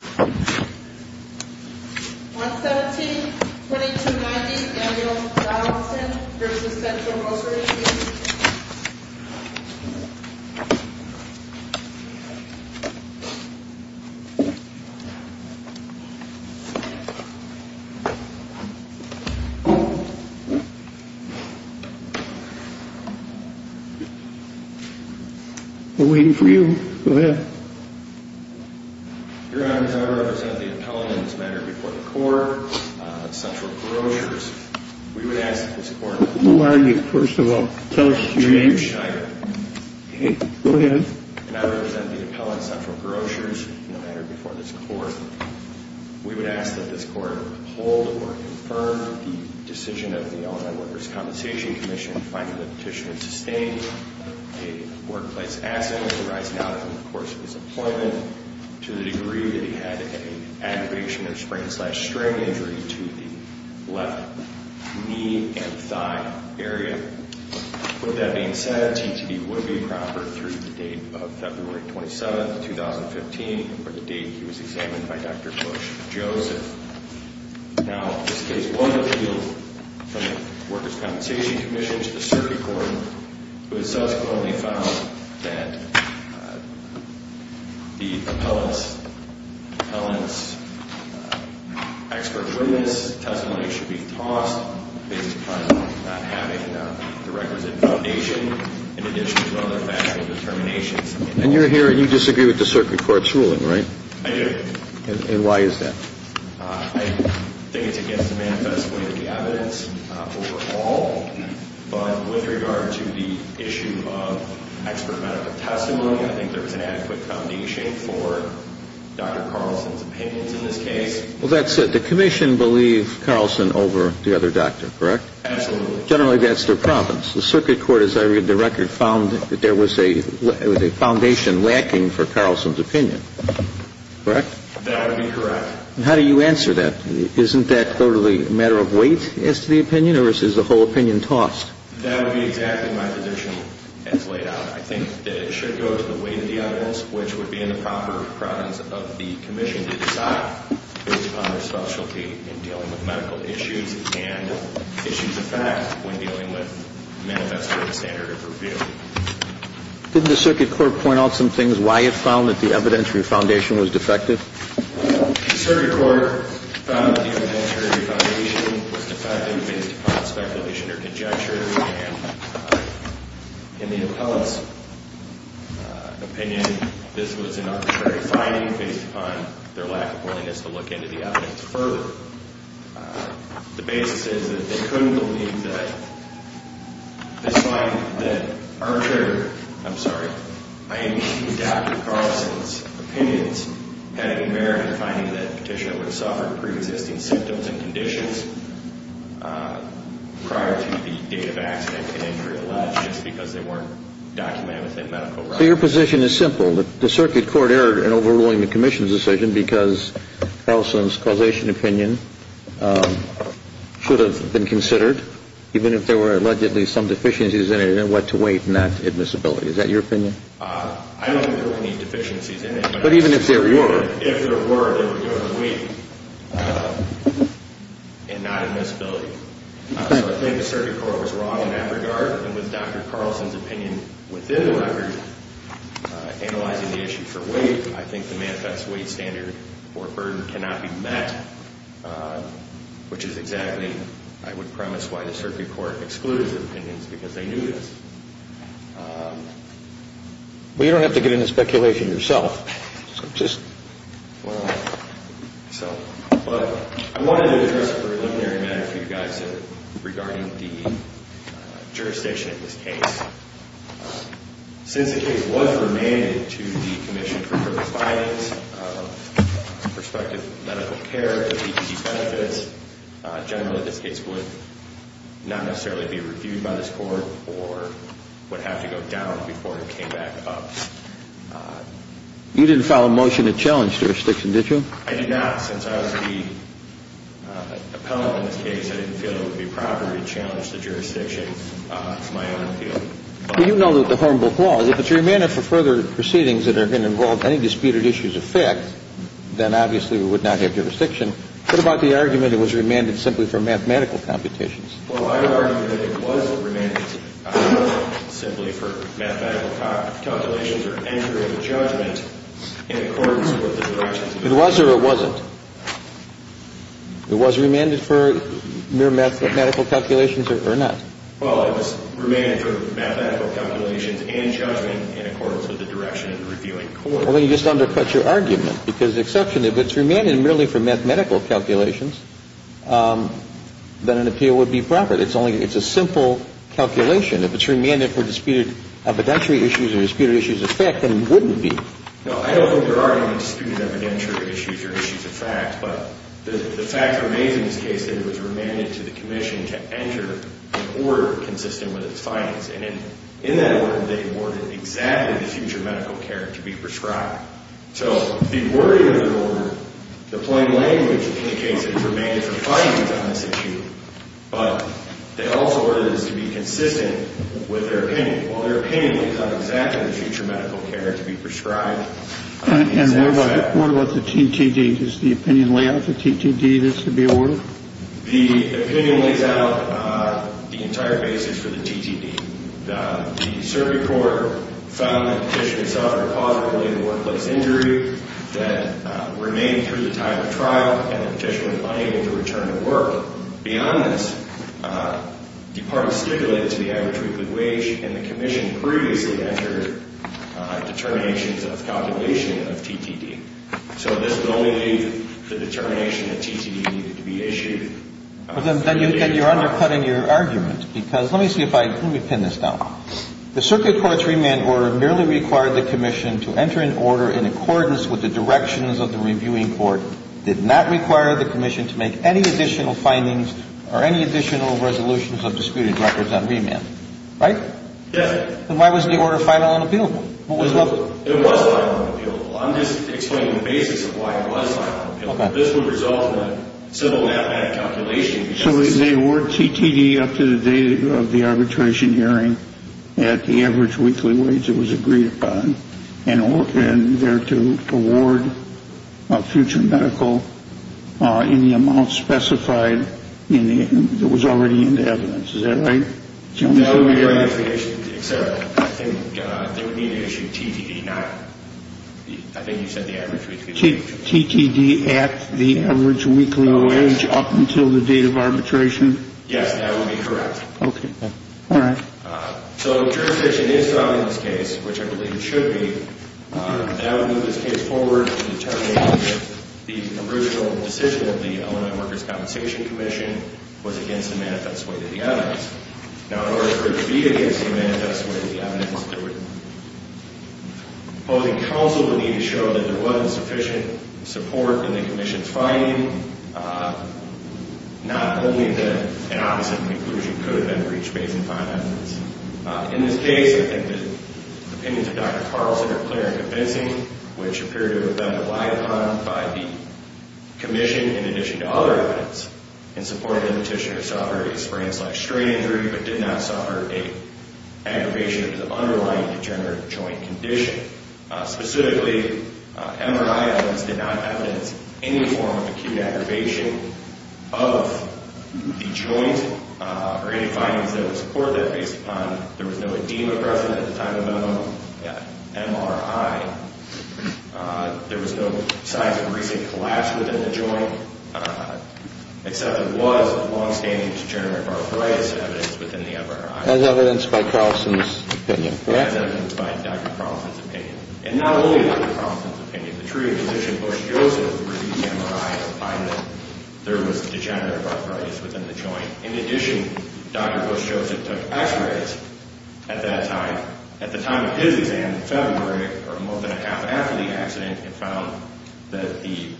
117-2290 Daniel Dodd-Austin v. Central Groceries We're waiting for you. Go ahead. Your Honor, as I represent the appellant in this matter before the court, Central Grocers, we would ask that this court... We'll argue, first of all. Tell us your name. James Scheider. Okay, go ahead. And I represent the appellant, Central Grocers, in the matter before this court. We would ask that this court uphold or confirm the decision of the Illinois Workers' Compensation Commission in finding the petitioner to stay a workplace asset in the rise and fall in the course of his employment to the degree that he had an aggravation of sprain-slash-string injury to the left knee and thigh area. With that being said, TTE would be proper through the date of February 27, 2015, or the date he was examined by Dr. Bush Joseph. Now, in this case, one appeal from the Workers' Compensation Commission to the circuit court was subsequently found that the appellant's expert witness testimony should be tossed based upon not having the records in foundation in addition to other factual determinations. And you're here and you disagree with the circuit court's ruling, right? I do. And why is that? I think it's against the manifest way of the evidence overall. But with regard to the issue of expert medical testimony, I think there was an adequate foundation for Dr. Carlson's opinions in this case. Well, that's it. The commission believed Carlson over the other doctor, correct? Absolutely. Generally, that's their province. The circuit court, as I read the record, found that there was a foundation lacking for Carlson's opinion, correct? That would be correct. And how do you answer that? Isn't that totally a matter of weight as to the opinion or is the whole opinion tossed? That would be exactly my position as laid out. I think that it should go to the weight of the evidence, which would be in the proper province of the commission to decide based upon their specialty in dealing with medical issues and issues of fact when dealing with manifest way standard of review. Didn't the circuit court point out some things why it found that the evidentiary foundation was defective? The circuit court found that the evidentiary foundation was defective based upon speculation or conjecture. And in the appellate's opinion, this was an arbitrary finding based upon their lack of willingness to look into the evidence further. The basis is that they couldn't believe that the sign that Archer, I'm sorry, I mean Dr. Carlson's opinions had any merit in finding that Petitioner would suffer pre-existing symptoms and conditions prior to the date of accident and injury alleged just because they weren't documented within medical records. So your position is simple. The circuit court erred in overruling the commission's decision because Carlson's causation opinion should have been considered even if there were allegedly some deficiencies in it and what to weight not admissibility. Is that your opinion? I don't think there were any deficiencies in it. But even if there were? If there were, they would go to the weight and not admissibility. So I think the circuit court was wrong in that regard. And with Dr. Carlson's opinion within the record, analyzing the issue for weight, I think the manifest weight standard or burden cannot be met, which is exactly, I would premise, why the circuit court excluded his opinions because they knew this. Well, you don't have to get into speculation yourself. Well, I wanted to address a preliminary matter for you guys regarding the jurisdiction of this case. Since the case was remanded to the commission for further findings of prospective medical care and PPE benefits, generally this case would not necessarily be reviewed by this court or would have to go down before it came back up. You didn't file a motion to challenge jurisdiction, did you? I did not. Since I was the appellant in this case, I didn't feel it would be proper to challenge the jurisdiction. It's my own appeal. Well, you know that the Hornbook law, if it's remanded for further proceedings that are going to involve any disputed issues of fact, then obviously we would not have jurisdiction. What about the argument it was remanded simply for mathematical computations? Well, I would argue that it was remanded simply for mathematical calculations or anchoring the judgment in accordance with the directions of the court. It was or it wasn't? It was remanded for mere mathematical calculations or not? Well, it was remanded for mathematical calculations and judgment in accordance with the direction of the reviewing court. Well, then you just undercut your argument because the exception, if it's remanded merely for mathematical calculations, then an appeal would be proper. It's a simple calculation. If it's remanded for disputed evidentiary issues or disputed issues of fact, then it wouldn't be. No, I don't think there are any disputed evidentiary issues or issues of fact, but the facts are made in this case that it was remanded to the commission to enter an order consistent with its findings. And in that order, they ordered exactly the future medical care to be prescribed. So the wording of the order, the plain language indicates that it was remanded for findings on this issue, but they also ordered this to be consistent with their opinion. Well, their opinion was on exactly the future medical care to be prescribed. And what about the TTD? Does the opinion lay out the TTD that's to be ordered? The opinion lays out the entire basis for the TTD. The circuit court found that the petitioner suffered a positive related workplace injury that remained through the time of trial, and the petitioner was unable to return to work. Beyond this, the parties stipulated to the average weekly wage, and the commission previously entered determinations of calculation of TTD. So this would only lead to the determination that TTD needed to be issued. But then you're undercutting your argument, because let me see if I can pin this down. The circuit court's remand order merely required the commission to enter an order in accordance with the directions of the reviewing court, did not require the commission to make any additional findings or any additional resolutions of disputed records on remand. Right? Yes. Then why was the order final and appealable? It was final and appealable. I'm just explaining the basis of why it was final and appealable. This would result in a simple mathematical calculation. So they award TTD up to the date of the arbitration hearing at the average weekly wage that was agreed upon, and there to award a future medical in the amount specified that was already in the evidence. Is that right? I think they would need to issue TTD. I think you said the average weekly wage. TTD at the average weekly wage up until the date of arbitration? Yes, that would be correct. Okay. All right. So if jurisdiction is found in this case, which I believe it should be, that would move this case forward to determine if the original decision of the Illinois Workers' Compensation Commission was against the manifest way to the evidence. Now, in order for it to be against the manifest way to the evidence, the opposing counsel would need to show that there wasn't sufficient support in the commission's finding, not only that an opposite conclusion could have been reached based on the evidence. In this case, I think the opinions of Dr. Carlson are clear and convincing, which appear to have been relied upon by the commission, in addition to other evidence, in supporting the petitioner to suffer a sprain-slash-strain injury but did not suffer an aggravation of the underlying degenerative joint condition. Specifically, MRI evidence did not evidence any form of acute aggravation of the joint or any findings that would support that based upon there was no edema present at the time of the MRI. There was no signs of recent collapse within the joint, except there was a long-standing degenerative arthritis evidence within the MRI. As evidenced by Carlson's opinion. And not only by Carlson's opinion. The true opposition, Bush-Joseph, reviewed the MRI and found that there was degenerative arthritis within the joint. In addition, Dr. Bush-Joseph took x-rays at that time. At the time of his exam, in February, or more than a half after the accident, he found that the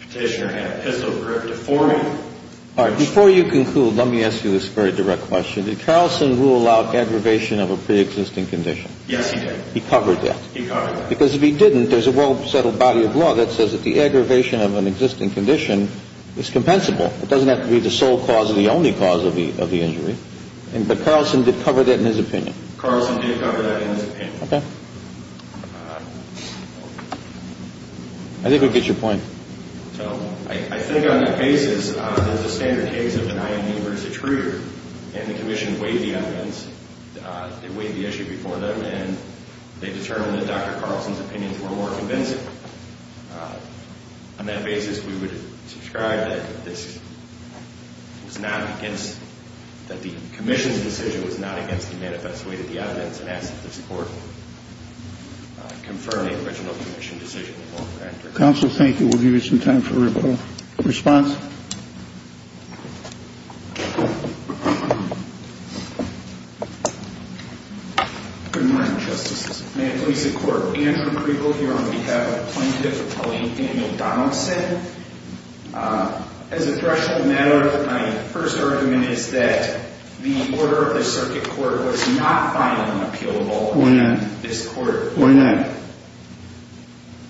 petitioner had a pistol grip deforming. And there was no evidence that the petitioner had a gun grip. All right. Before you conclude, let me ask you this very direct question. Did Carlson rule out aggravation of a preexisting condition? Yes, he did. He covered that? He covered that. Because if he didn't, there's a well-settled body of law that says that the aggravation of an existing condition is compensable. It doesn't have to be the sole cause or the only cause of the injury. But Carlson did cover that in his opinion. Carlson did cover that in his opinion. Okay. I think we get your point. So, I think on that basis, there's a standard case of an IMU versus a truger. And the commission weighed the evidence. They weighed the issue before them. And they determined that Dr. Carlson's opinions were more convincing. On that basis, we would describe that the commission's decision was not against the manifest weight of the evidence. And ask that this court confirm the original commission decision. Counsel, thank you. We'll give you some time for a response. Good morning, Justices. May it please the Court. Andrew Kriegel here on behalf of Plaintiff Attorney Daniel Donaldson. As a threshold matter, my first argument is that the order of the circuit court was not final and appealable. Why not? This court. Why not?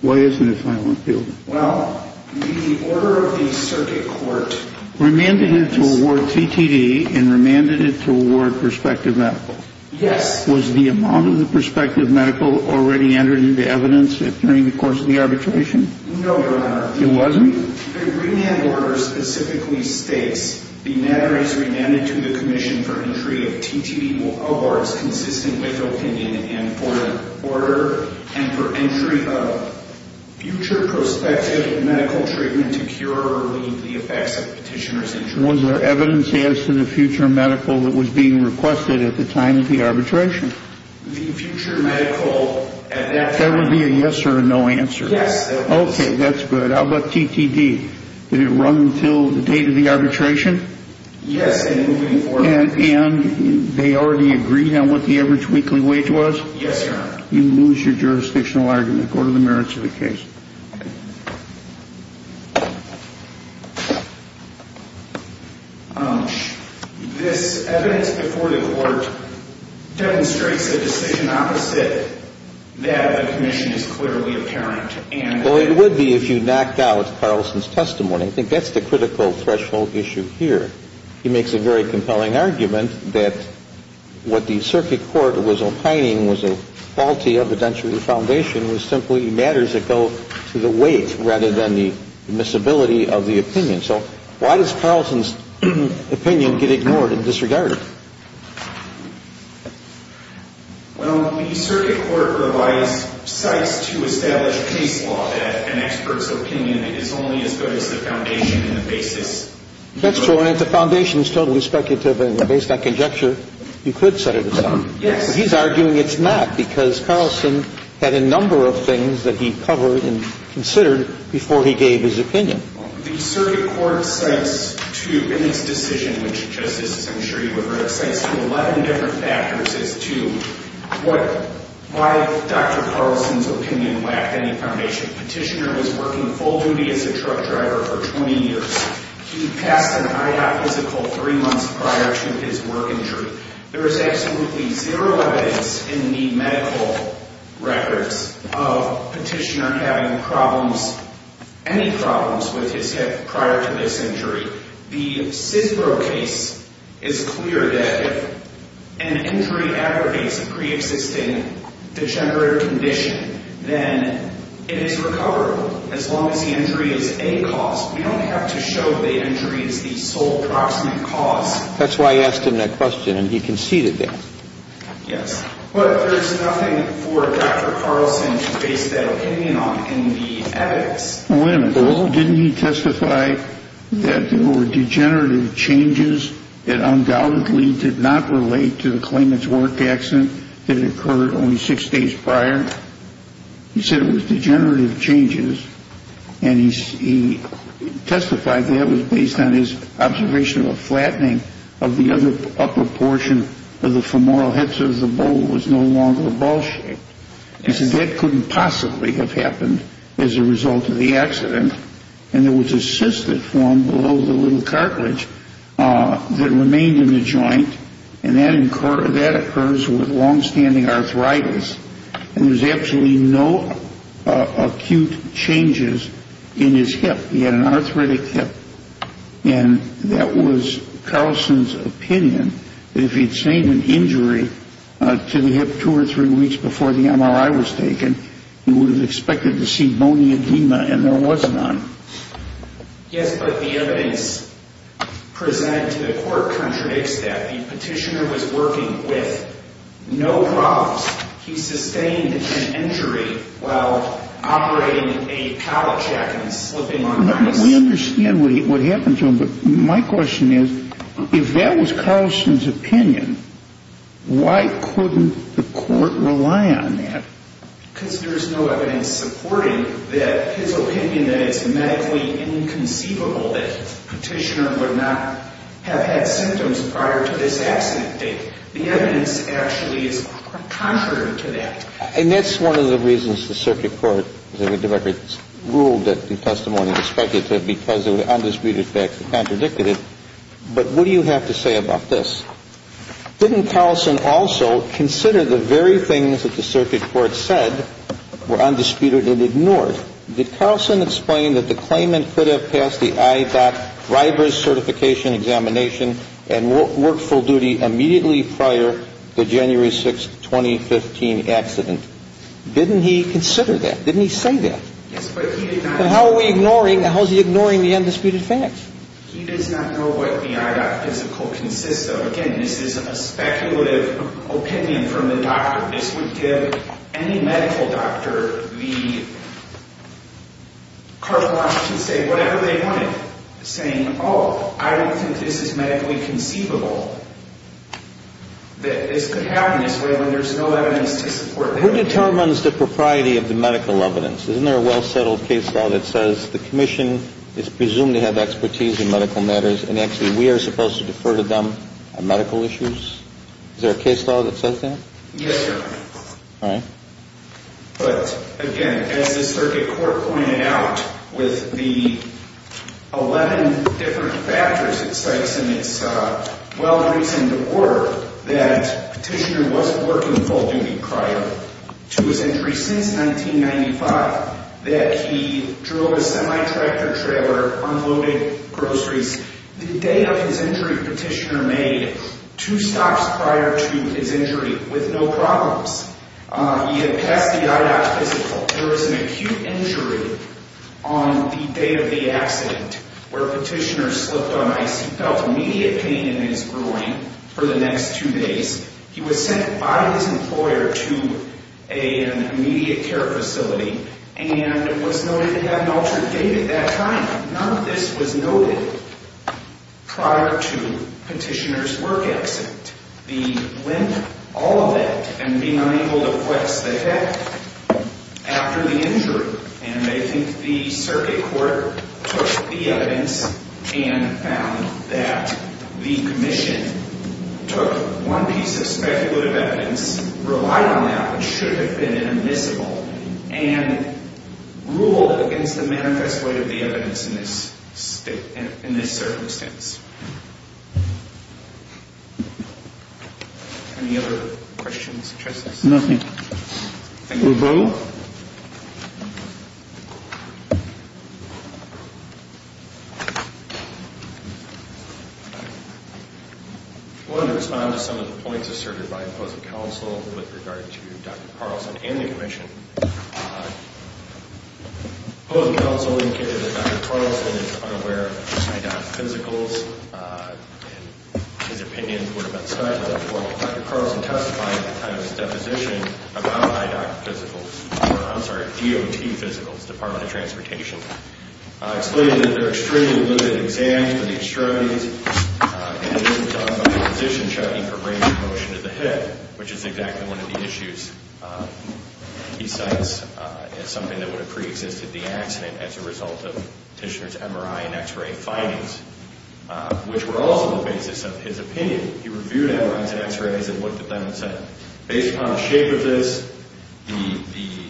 Why isn't it final and appealable? Well, the order of the circuit court. Remanded it to award CTD and remanded it to award prospective medical. Yes. Was the amount of the prospective medical already entered into evidence during the course of the arbitration? No, Your Honor. It wasn't? The remand order specifically states the matter is remanded to the commission for entry of CTD awards consistent with opinion and for order. And for entry of future prospective medical treatment to cure or relieve the effects of the petitioner's injury. Was there evidence as to the future medical that was being requested at the time of the arbitration? The future medical at that time. There would be a yes or a no answer. Yes. Okay, that's good. How about CTD? Did it run until the date of the arbitration? Yes, and moving forward. And they already agreed on what the average weekly wage was? Yes, Your Honor. You lose your jurisdictional argument. Go to the merits of the case. This evidence before the court demonstrates a decision opposite that the commission is clearly apparent. Well, it would be if you knocked out Carlson's testimony. I think that's the critical threshold issue here. He makes a very compelling argument that what the circuit court was opining was a faulty evidentiary foundation, was simply matters that go to the weight rather than the admissibility of the opinion. So why does Carlson's opinion get ignored and disregarded? Well, the circuit court provides sites to establish case law that an expert's opinion is only as good as the foundation and the basis. That's true, and if the foundation is totally speculative and based on conjecture, you could set it aside. Yes. He's arguing it's not because Carlson had a number of things that he covered and considered before he gave his opinion. The circuit court cites two in its decision, which, Justices, I'm sure you have read it, cites 11 different factors as to why Dr. Carlson's opinion lacked any foundation. Petitioner was working full duty as a truck driver for 20 years. He passed an IOP physical three months prior to his work injury. There is absolutely zero evidence in the medical records of Petitioner having problems, any problems, with his hip prior to this injury. The CISBRO case is clear that if an injury aggregates a preexisting degenerative condition, then it is recoverable. As long as the injury is a cause, we don't have to show the injury is the sole proximate cause. That's why I asked him that question, and he conceded that. Yes. But there's nothing for Dr. Carlson to base that opinion on in the evidence. Wait a minute. Didn't he testify that there were degenerative changes that undoubtedly did not relate to the claimant's work accident that occurred only six days prior? He said it was degenerative changes, and he testified that it was based on his observation of a flattening of the upper portion of the femoral hips as the bowl was no longer ball-shaped. He said that couldn't possibly have happened as a result of the accident, and there was a cyst that formed below the little cartilage that remained in the joint, and that occurs with long-standing arthritis, and there was absolutely no acute changes in his hip. He had an arthritic hip, and that was Carlson's opinion, that if he'd sustained an injury to the hip two or three weeks before the MRI was taken, he would have expected to see bony edema, and there was none. Yes, but the evidence presented to the court contradicts that. The petitioner was working with no problems. He sustained an injury while operating a pallet check and slipping on ice. We understand what happened to him, but my question is if that was Carlson's opinion, why couldn't the court rely on that? Because there is no evidence supporting that his opinion that it's medically inconceivable that the petitioner would not have had symptoms prior to this accident date. The evidence actually is contrary to that. And that's one of the reasons the circuit court ruled that the testimony was speculative, because there were undisputed facts that contradicted it, but what do you have to say about this? Didn't Carlson also consider the very things that the circuit court said were undisputed and ignored? Did Carlson explain that the claimant could have passed the IADOT driver's certification examination and worked full duty immediately prior to January 6, 2015 accident? Didn't he consider that? Didn't he say that? Yes, but he did not. And how are we ignoring, how is he ignoring the undisputed facts? He does not know what the IADOT physical consists of. Again, this is a speculative opinion from the doctor. This would give any medical doctor the carte blanche to say whatever they wanted, saying, oh, I don't think this is medically conceivable that this could happen this way when there's no evidence to support that. Who determines the propriety of the medical evidence? Isn't there a well-settled case law that says the commission is presumed to have expertise in medical matters and actually we are supposed to defer to them on medical issues? Is there a case law that says that? Yes, Your Honor. All right. But, again, as the circuit court pointed out with the 11 different factors it cites in its well-reasoned order that Petitioner was working full duty prior to his injury since 1995, that he drove a semi-tractor trailer, unloaded groceries. The day of his injury, Petitioner made two stops prior to his injury with no problems. He had passed the I.D.O.C. physical. There was an acute injury on the day of the accident where Petitioner slipped on ice. He felt immediate pain in his groin for the next two days. He was sent by his employer to an immediate care facility and was noted to have an altered gait at that time. None of this was noted prior to Petitioner's work accident. He went all of it and being unable to flex the hip after the injury. And I think the circuit court took the evidence and found that the commission took one piece of speculative evidence, relied on that which should have been inadmissible, and ruled against the manifest way of the evidence in this circumstance. Any other questions? Nothing. Thank you. I want to respond to some of the points asserted by opposing counsel with regard to Dr. Carlson and the commission. Opposing counsel indicated that Dr. Carlson is unaware of his I.D.O.C. physicals and his opinion would have been cited in the court. Dr. Carlson testified at the time of his deposition about I.D.O.C. physicals, I'm sorry, DOT physicals, Department of Transportation, excluded that there are extremely limited exams for these strategies and that this was done by a physician checking for range of motion of the hip, which is exactly one of the issues he cites as something that would have preexisted the accident as a result of Petitioner's MRI and X-ray findings, which were also the basis of his opinion. He reviewed MRIs and X-rays and looked at them and said, based upon the shape of this, the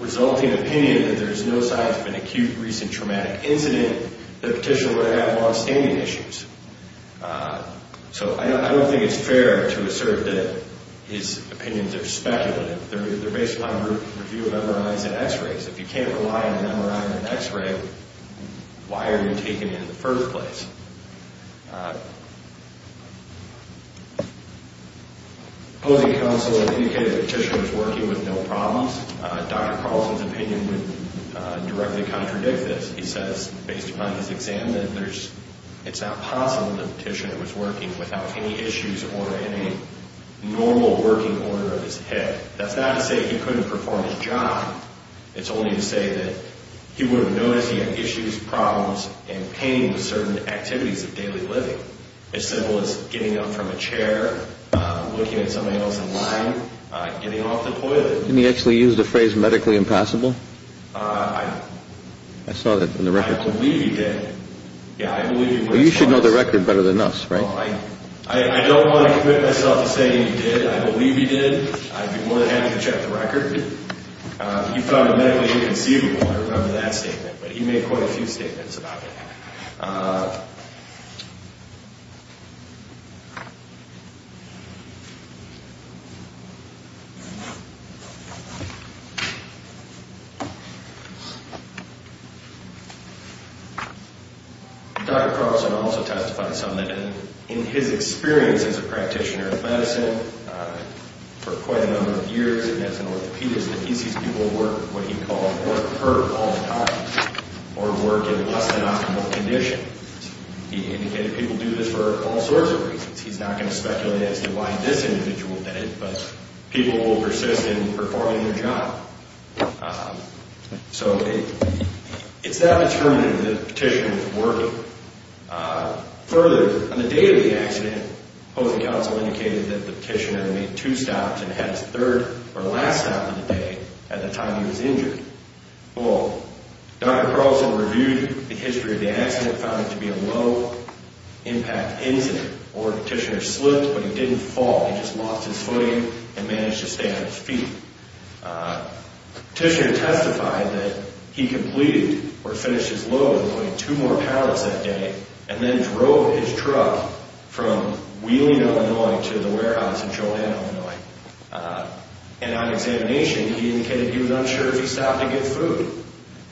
resulting opinion that there is no sign of an acute recent traumatic incident, that Petitioner would have longstanding issues. So I don't think it's fair to assert that his opinions are speculative. Because if you can't rely on an MRI and an X-ray, why are you taking it in the first place? Opposing counsel indicated that Petitioner was working with no problems. Dr. Carlson's opinion would directly contradict this. He says, based upon his exam, that it's not possible that Petitioner was working without any issues or in a normal working order of his hip. That's not to say he couldn't perform his job. It's only to say that he would have noticed he had issues, problems, and pain with certain activities of daily living. As simple as getting up from a chair, looking at somebody else in line, getting off the toilet. Didn't he actually use the phrase medically impossible? I saw that in the records. I believe he did. You should know the record better than us, right? I don't want to commit myself to saying he did. I believe he did. I'd be more than happy to check the record. He found it medically inconceivable. I remember that statement. But he made quite a few statements about it. Dr. Carlson also testified some that in his experience as a practitioner of medicine for quite a number of years and as an orthopedist that he sees people work what he called work hurt all the time or work in less than optimal condition. He indicated people do this for all sorts of reasons. He's not going to speculate as to why this individual did it. But people will persist in performing their job. So it's not determinative that a petitioner would work. Further, on the day of the accident, opposing counsel indicated that the petitioner had made two stops and had his third or last stop of the day at the time he was injured. Well, Dr. Carlson reviewed the history of the accident and found it to be a low-impact incident. Or the petitioner slipped, but he didn't fall. He just lost his footing and managed to stay on his feet. The petitioner testified that he completed or finished his load and loaded two more pallets that day and then drove his truck from Wheeling, Illinois, to the warehouse in Joliet, Illinois. And on examination, he indicated he was unsure if he stopped to get food.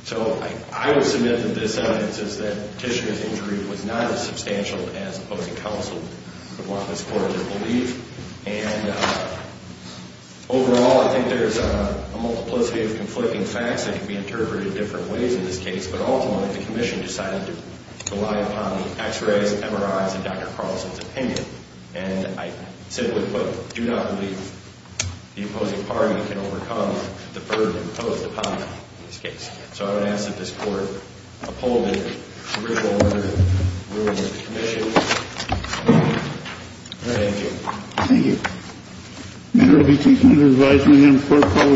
So I would submit that this evidence is that the petitioner's injury was not as substantial as opposing counsel would want this court to believe. And overall, I think there's a multiplicity of conflicting facts that can be interpreted in different ways in this case. But ultimately, the commission decided to rely upon the X-rays, MRIs, and Dr. Carlson's opinion. And I simply put, do not believe the opposing party can overcome the burden imposed upon them in this case. So I would ask that this court uphold the judicial order ruling of the commission. Thank you. Thank you. The matter will be taken to the advisory room for a call to the next case, please.